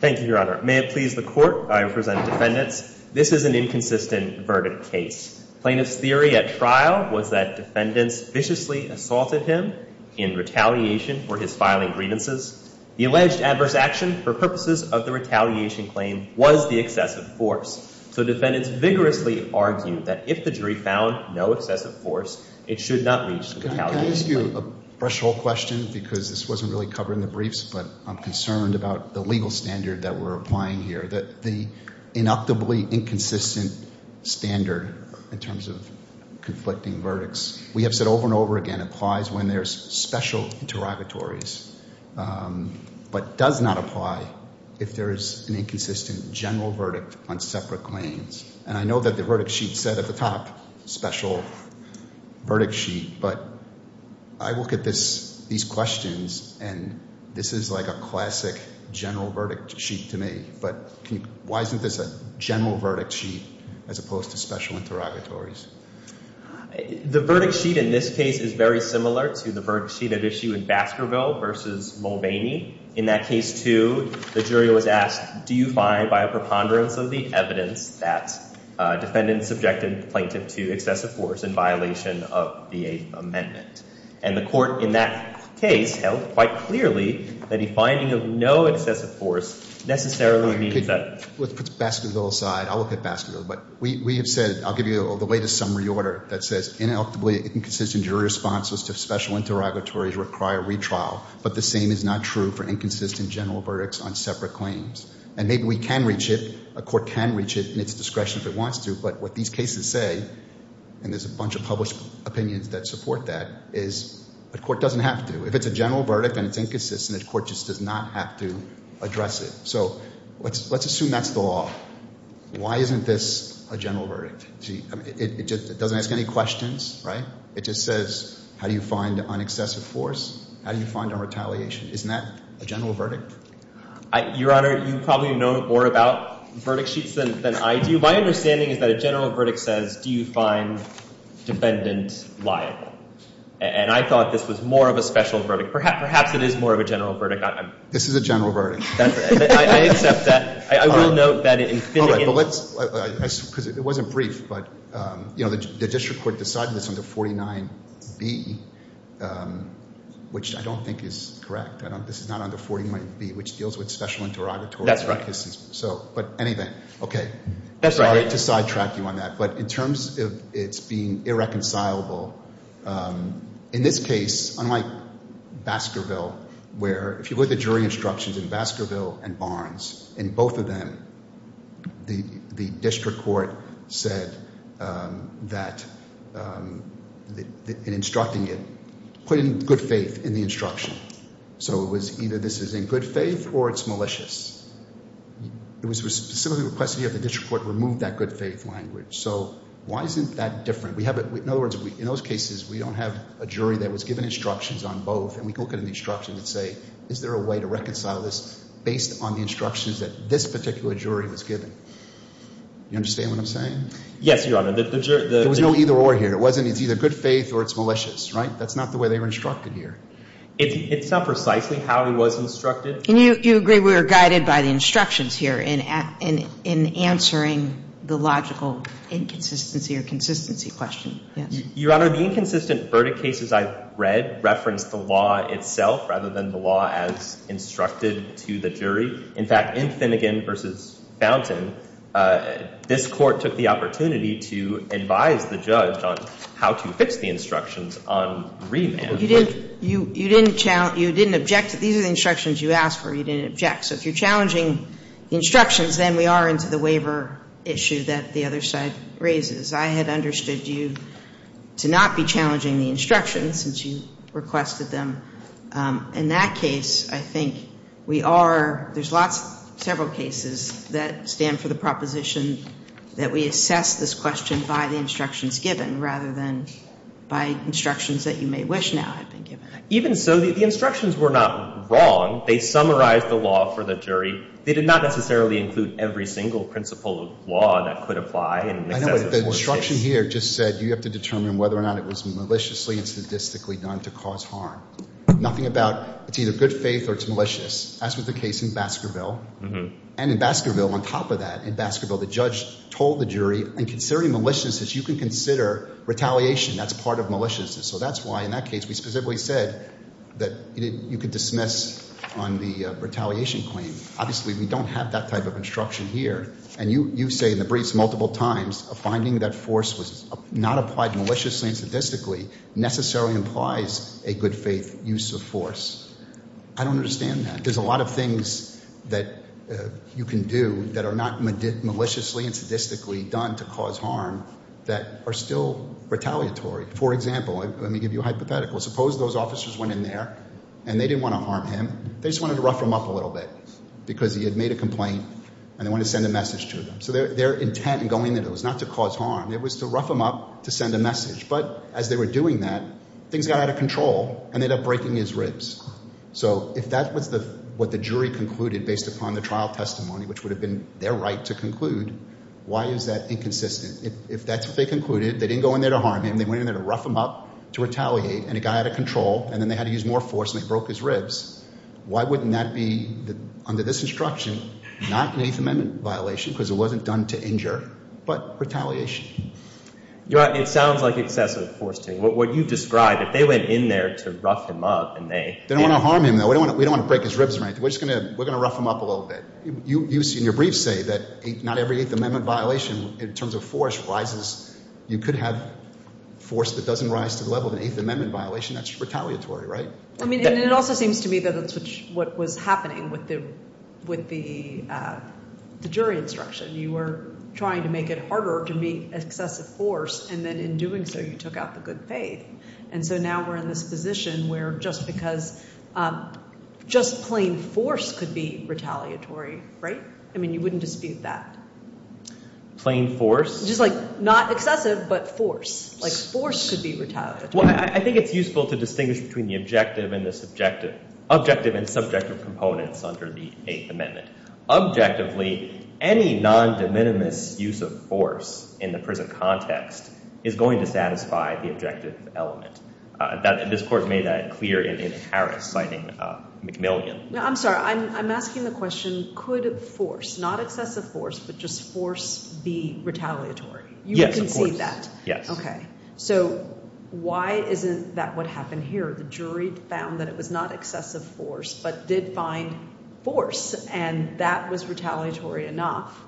Thank you, Your Honor. May it please the Court, I present the defendants. This is an inconsistent verdict case. Plaintiff's theory at trial was that defendants viciously assaulted him in retaliation for his filing grievances. The alleged adverse action for purposes of the retaliation claim was the excessive force. So defendants vigorously argued that if the jury found no excessive force, it should not reach the retaliation claim. Can I ask you a threshold question because this wasn't really covered in the briefs, but I'm concerned about the legal standard that we're applying here, that the inactively inconsistent standard in terms of conflicting verdicts, we have said over and over again, applies when there's special interrogatories, but does not apply if there is an inconsistent general verdict on separate claims. And I know that the verdict sheet said at the top, special verdict sheet, but I look at these questions and this is like a classic general verdict sheet to me, but why isn't this a general verdict sheet as opposed to special interrogatories? The verdict sheet in this case is very similar to the verdict sheet at issue in Baskerville v. Mulvaney. In that case, too, the jury was asked, do you find by a preponderance of the evidence that defendants subjected the plaintiff to excessive force in violation of the Eighth Amendment? And the court in that case held quite clearly that a finding of no excessive force necessarily means that. Let's put Baskerville aside. I'll look at Baskerville. But we have said, I'll give you the latest summary order that says inactively inconsistent jury response to special interrogatories require retrial. But the same is not true for inconsistent general verdicts on separate claims. And maybe we can reach it, a court can reach it in its discretion if it wants to, but what these cases say, and there's a bunch of published opinions that support that, is a court doesn't have to. If it's a general verdict and it's inconsistent, a court just does not have to address it. So let's assume that's the law. Why isn't this a general verdict? It doesn't ask any questions, right? It just says, how do you find on excessive force? How do you find on retaliation? Isn't that a general verdict? Your Honor, you probably know more about verdict sheets than I do. My understanding is that a general verdict says, do you find defendants liable? And I thought this was more of a special verdict. Perhaps it is more of a general verdict. This is a general verdict. I accept that. I will note that in finding it. Because it wasn't brief, but the district court decided this under 49B, which I don't think is correct. This is not under 49B, which deals with special interrogatory cases. But anyway, okay. Sorry to sidetrack you on that. But in terms of it being irreconcilable, in this case, unlike Baskerville, where if you look at the jury instructions in Baskerville and Barnes, in both of them, the district court said that in instructing it, put in good faith in the instruction. So it was either this is in good faith or it's malicious. It was specifically requested that the district court remove that good faith language. So why isn't that different? In other words, in those cases, we don't have a jury that was given instructions on both. And we can look at an instruction and say, is there a way to reconcile this based on the instructions that this particular jury was given? Do you understand what I'm saying? Yes, Your Honor. There was no either or here. It's either good faith or it's malicious, right? That's not the way they were instructed here. It's not precisely how he was instructed. Do you agree we were guided by the instructions here in answering the logical inconsistency or consistency question? Yes. Your Honor, the inconsistent verdict cases I've read reference the law itself rather than the law as instructed to the jury. In fact, in Finnegan v. Fountain, this Court took the opportunity to advise the judge on how to fix the instructions on remand. You didn't challenge – you didn't object to – these are the instructions you asked for. You didn't object. So if you're challenging instructions, then we are into the waiver issue that the other side raises. I had understood you to not be challenging the instructions since you requested them. In that case, I think we are – there's lots – several cases that stand for the proposition that we assess this question by the instructions given rather than by instructions that you may wish now had been given. Even so, the instructions were not wrong. They summarized the law for the jury. They did not necessarily include every single principle of law that could apply in the case. But the instruction here just said you have to determine whether or not it was maliciously and statistically done to cause harm. Nothing about – it's either good faith or it's malicious. That's what the case in Baskerville. And in Baskerville, on top of that, in Baskerville, the judge told the jury in considering maliciousness, you can consider retaliation. That's part of maliciousness. So that's why in that case we specifically said that you could dismiss on the retaliation claim. Obviously, we don't have that type of instruction here. And you say in the briefs multiple times a finding that force was not applied maliciously and statistically necessarily implies a good faith use of force. I don't understand that. There's a lot of things that you can do that are not maliciously and statistically done to cause harm that are still retaliatory. For example, let me give you a hypothetical. Suppose those officers went in there and they didn't want to harm him. They just wanted to rough him up a little bit because he had made a complaint and they wanted to send a message to him. So their intent in going there was not to cause harm. It was to rough him up to send a message. But as they were doing that, things got out of control and they ended up breaking his ribs. So if that was what the jury concluded based upon the trial testimony, which would have been their right to conclude, why is that inconsistent? If that's what they concluded, they didn't go in there to harm him, they went in there to rough him up to retaliate, and it got out of control, and then they had to use more force and they broke his ribs, why wouldn't that be, under this instruction, not an Eighth Amendment violation because it wasn't done to injure, but retaliation? It sounds like excessive force to me. What you described, if they went in there to rough him up and they— They don't want to harm him, though. We don't want to break his ribs or anything. We're going to rough him up a little bit. You in your brief say that not every Eighth Amendment violation in terms of force rises. You could have force that doesn't rise to the level of an Eighth Amendment violation. That's retaliatory, right? I mean, and it also seems to me that that's what was happening with the jury instruction. You were trying to make it harder to meet excessive force, and then in doing so you took out the good faith, and so now we're in this position where just because—just plain force could be retaliatory, right? I mean, you wouldn't dispute that. Plain force? Just, like, not excessive, but force. Like, force could be retaliatory. Well, I think it's useful to distinguish between the objective and the subjective— objective and subjective components under the Eighth Amendment. Objectively, any non-de minimis use of force in the prison context is going to satisfy the objective element. This Court made that clear in Harris, citing McMillian. No, I'm sorry. I'm asking the question, could force, not excessive force, but just force be retaliatory? Yes, of course. You would concede that? Yes. Okay. So why isn't that what happened here? The jury found that it was not excessive force, but did find force, and that was retaliatory enough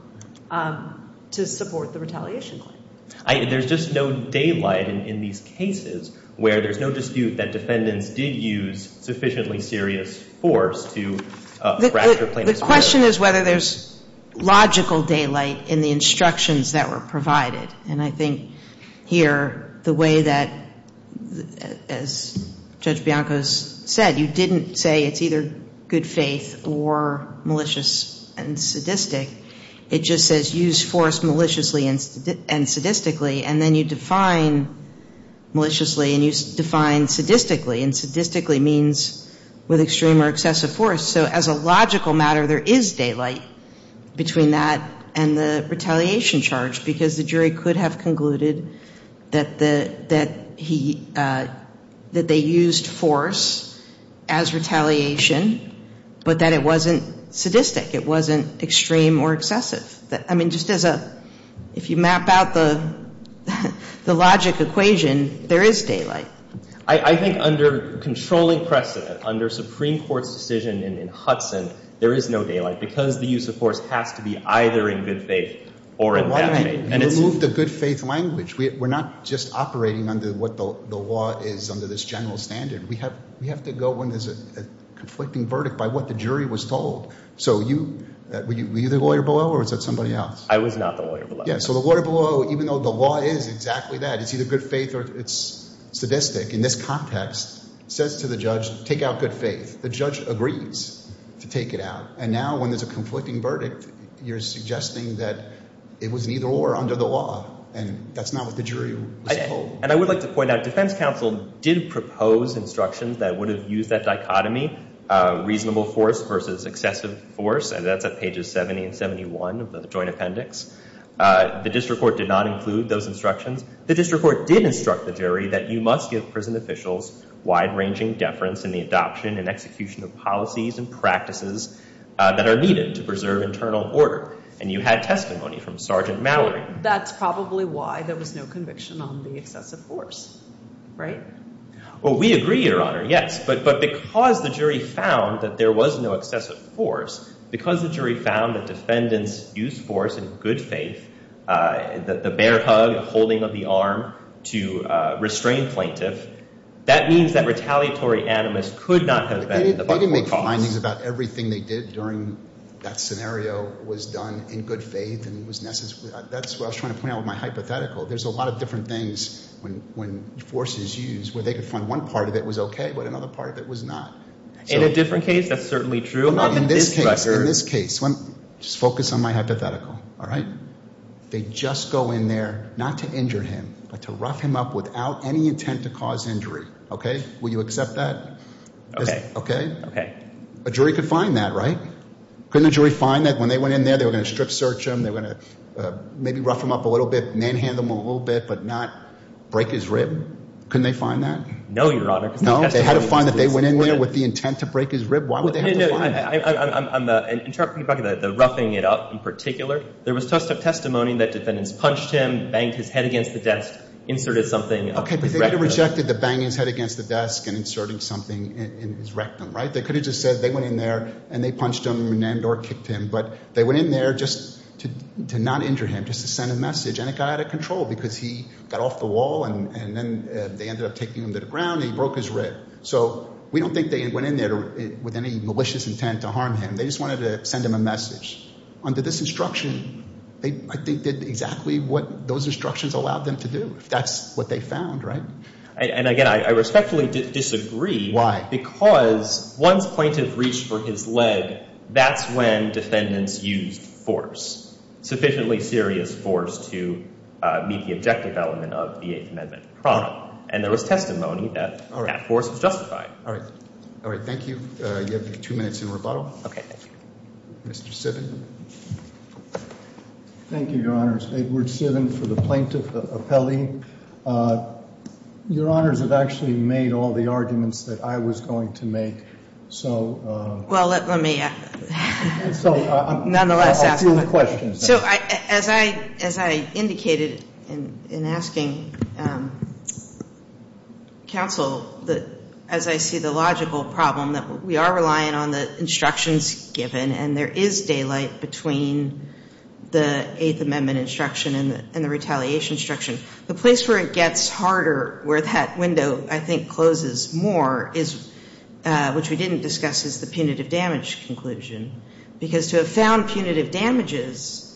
to support the retaliation claim. There's just no daylight in these cases where there's no dispute that defendants did use sufficiently serious force to fracture plaintiffs' murder. The question is whether there's logical daylight in the instructions that were provided, and I think here the way that, as Judge Bianco said, you didn't say it's either good faith or malicious and sadistic. It just says use force maliciously and sadistically, and then you define maliciously and you define sadistically, and sadistically means with extreme or excessive force. So as a logical matter, there is daylight between that and the retaliation charge, because the jury could have concluded that he, that they used force as retaliation, but that it wasn't sadistic. It wasn't extreme or excessive. I mean, just as a, if you map out the logic equation, there is daylight. I think under controlling precedent, under Supreme Court's decision in Hudson, there is no daylight, because the use of force has to be either in good faith or in bad faith. You removed the good faith language. We're not just operating under what the law is under this general standard. We have to go when there's a conflicting verdict by what the jury was told. So were you the lawyer below, or was that somebody else? I was not the lawyer below. Yeah, so the lawyer below, even though the law is exactly that. It's either good faith or it's sadistic. In this context, it says to the judge, take out good faith. The judge agrees to take it out, and now when there's a conflicting verdict, you're suggesting that it was neither or under the law, and that's not what the jury was told. And I would like to point out defense counsel did propose instructions that would have used that dichotomy, reasonable force versus excessive force, and that's at pages 70 and 71 of the joint appendix. The district court did not include those instructions. The district court did instruct the jury that you must give prison officials wide-ranging deference in the adoption and execution of policies and practices that are needed to preserve internal order, and you had testimony from Sergeant Mallory. That's probably why there was no conviction on the excessive force, right? Well, we agree, Your Honor, yes, but because the jury found that there was no excessive force, because the jury found that defendants used force and good faith, the bear hug, the holding of the arm to restrain plaintiff, that means that retaliatory animus could not have been the but-for-cause. They didn't make findings about everything they did during that scenario was done in good faith and was necessary. That's what I was trying to point out with my hypothetical. There's a lot of different things when force is used where they could find one part of it was okay but another part of it was not. In a different case, that's certainly true. In this case, just focus on my hypothetical, all right? They just go in there not to injure him but to rough him up without any intent to cause injury, okay? Will you accept that? Okay. Okay? Okay. A jury could find that, right? Couldn't a jury find that when they went in there, they were going to strip search him, they were going to maybe rough him up a little bit, manhandle him a little bit but not break his rib? Couldn't they find that? No, Your Honor. No? They had to find that they went in there with the intent to break his rib? Why would they have to find that? No, I'm talking about the roughing it up in particular. There was testimony that defendants punched him, banged his head against the desk, inserted something. Okay, but they could have rejected the banging his head against the desk and inserting something in his rectum, right? They could have just said they went in there and they punched him and or kicked him but they went in there just to not injure him, just to send a message, and it got out of control because he got off the wall and then they ended up taking him to the ground and he broke his rib. So we don't think they went in there with any malicious intent to harm him. They just wanted to send him a message. Under this instruction, I think they did exactly what those instructions allowed them to do. That's what they found, right? And again, I respectfully disagree. Why? Because once plaintiff reached for his leg, that's when defendants used force, sufficiently serious force to meet the objective element of the Eighth Amendment. And there was testimony that that force was justified. All right. All right. Thank you. You have two minutes in rebuttal. Okay. Thank you. Mr. Sivin. Thank you, Your Honors. Edward Sivin for the plaintiff appellee. Your Honors have actually made all the arguments that I was going to make, so. Well, let me ask. So I'm going to ask a few questions. So as I indicated in asking counsel, as I see the logical problem that we are relying on the instructions given and there is daylight between the Eighth Amendment instruction and the retaliation instruction, the place where it gets harder, where that window, I think, closes more, which we didn't discuss, is the punitive damage conclusion. Because to have found punitive damages,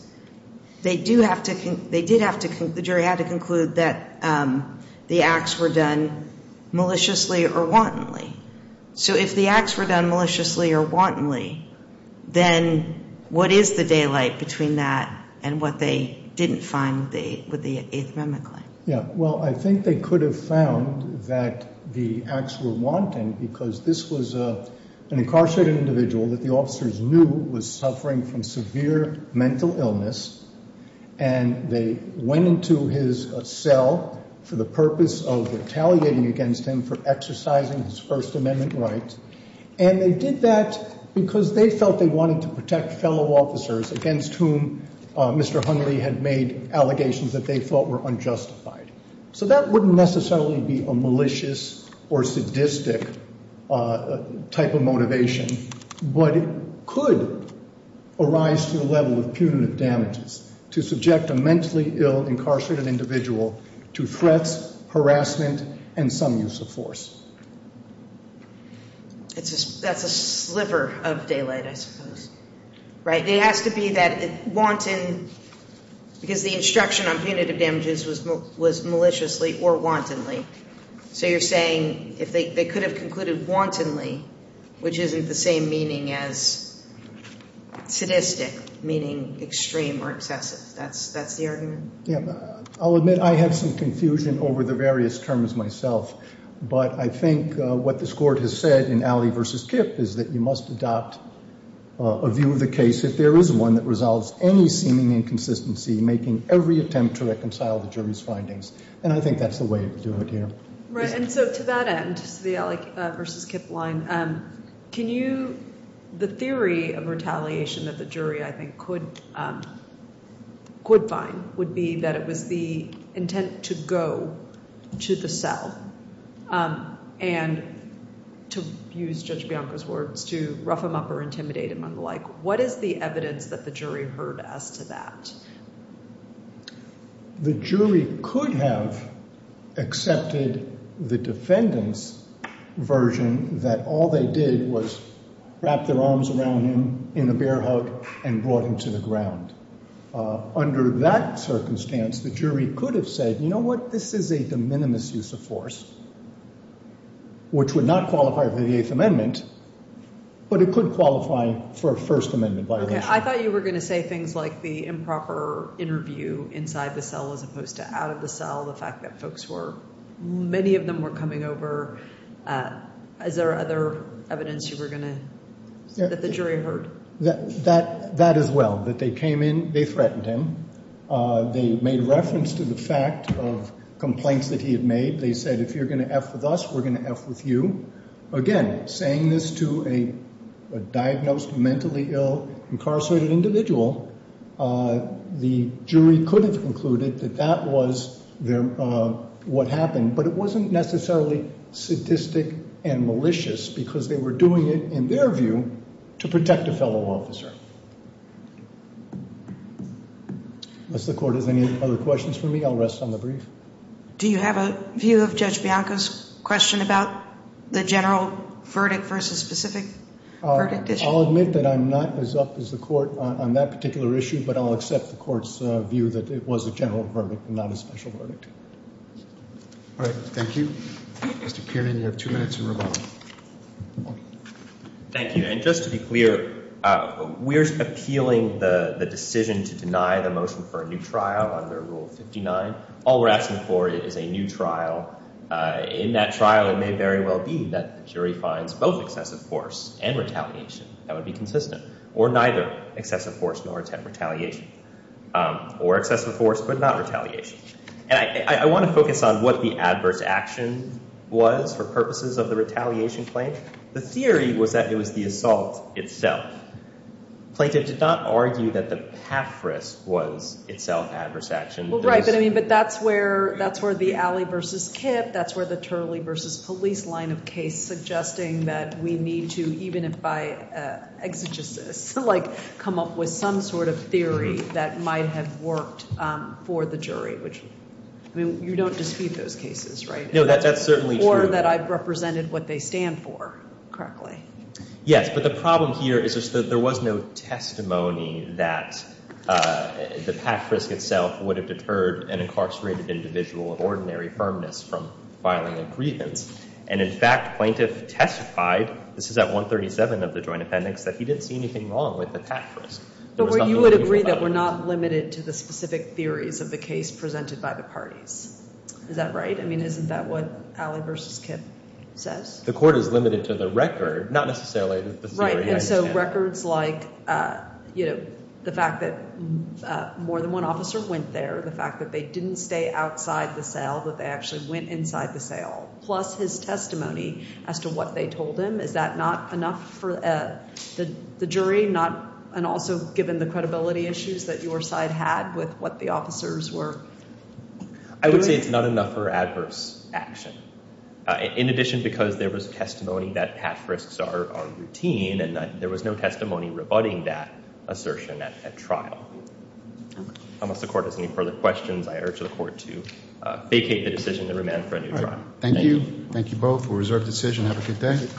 they do have to, they did have to, the jury had to conclude that the acts were done maliciously or wantonly. So if the acts were done maliciously or wantonly, then what is the daylight between that and what they didn't find with the Eighth Amendment claim? Yeah. Well, I think they could have found that the acts were wanton because this was an incarcerated individual that the officers knew was suffering from severe mental illness, and they went into his cell for the purpose of retaliating against him for exercising his First Amendment rights. And they did that because they felt they wanted to protect fellow officers against whom Mr. Hunley had made allegations that they thought were unjustified. So that wouldn't necessarily be a malicious or sadistic type of motivation, but it could arise to the level of punitive damages to subject a mentally ill incarcerated individual to threats, harassment, and some use of force. That's a sliver of daylight, I suppose. Right. It has to be that wanton because the instruction on punitive damages was maliciously or wantonly. So you're saying if they could have concluded wantonly, which isn't the same meaning as sadistic, meaning extreme or excessive. That's the argument? Yeah. I'll admit I have some confusion over the various terms myself, but I think what this Court has said in Alley v. Kipp is that you must adopt a view of the case if there is one that resolves any seeming inconsistency making every attempt to reconcile the jury's findings. And I think that's the way to do it here. Right. And so to that end, the Alley v. Kipp line, can you – and to use Judge Bianco's words, to rough him up or intimidate him and the like, what is the evidence that the jury heard as to that? The jury could have accepted the defendant's version that all they did was wrap their arms around him in a bear hug and brought him to the ground. Under that circumstance, the jury could have said, you know what, this is a de minimis use of force, which would not qualify for the Eighth Amendment, but it could qualify for a First Amendment violation. Okay. I thought you were going to say things like the improper interview inside the cell as opposed to out of the cell, the fact that folks were – many of them were coming over. Is there other evidence you were going to – that the jury heard? That as well, that they came in, they threatened him. They made reference to the fact of complaints that he had made. They said, if you're going to F with us, we're going to F with you. Again, saying this to a diagnosed, mentally ill, incarcerated individual, the jury could have concluded that that was what happened, but it wasn't necessarily sadistic and malicious because they were doing it, in their view, to protect a fellow officer. Unless the court has any other questions for me, I'll rest on the brief. Do you have a view of Judge Bianco's question about the general verdict versus specific verdict issue? I'll admit that I'm not as up as the court on that particular issue, but I'll accept the court's view that it was a general verdict and not a special verdict. All right. Thank you. Mr. Kiernan, you have two minutes in rebuttal. Thank you. And just to be clear, we're appealing the decision to deny the motion for a new trial under Rule 59. All we're asking for is a new trial. In that trial, it may very well be that the jury finds both excessive force and retaliation. That would be consistent. Or neither, excessive force nor retaliation. Or excessive force but not retaliation. And I want to focus on what the adverse action was for purposes of the retaliation claim. The theory was that it was the assault itself. Plaintiff did not argue that the path risk was itself adverse action. Well, right, but that's where the Alley v. Kipp, that's where the Turley v. Police line of case, is suggesting that we need to, even if by exegesis, come up with some sort of theory that might have worked for the jury. I mean, you don't dispute those cases, right? No, that's certainly true. Or that I've represented what they stand for correctly. Yes, but the problem here is that there was no testimony that the path risk itself would have deterred an incarcerated individual of ordinary firmness from filing a grievance. And, in fact, plaintiff testified, this is at 137 of the joint appendix, that he didn't see anything wrong with the path risk. You would agree that we're not limited to the specific theories of the case presented by the parties. Is that right? I mean, isn't that what Alley v. Kipp says? The court is limited to the record, not necessarily the theory. Right, and so records like, you know, the fact that more than one officer went there, the fact that they didn't stay outside the cell, that they actually went inside the cell, plus his testimony as to what they told him, is that not enough for the jury, and also given the credibility issues that your side had with what the officers were? I would say it's not enough for adverse action. In addition, because there was testimony that path risks are routine, and there was no testimony rebutting that assertion at trial. Unless the court has any further questions, I urge the court to vacate the decision and remand for a new trial. Thank you. Thank you both. We'll reserve the decision. Have a good day.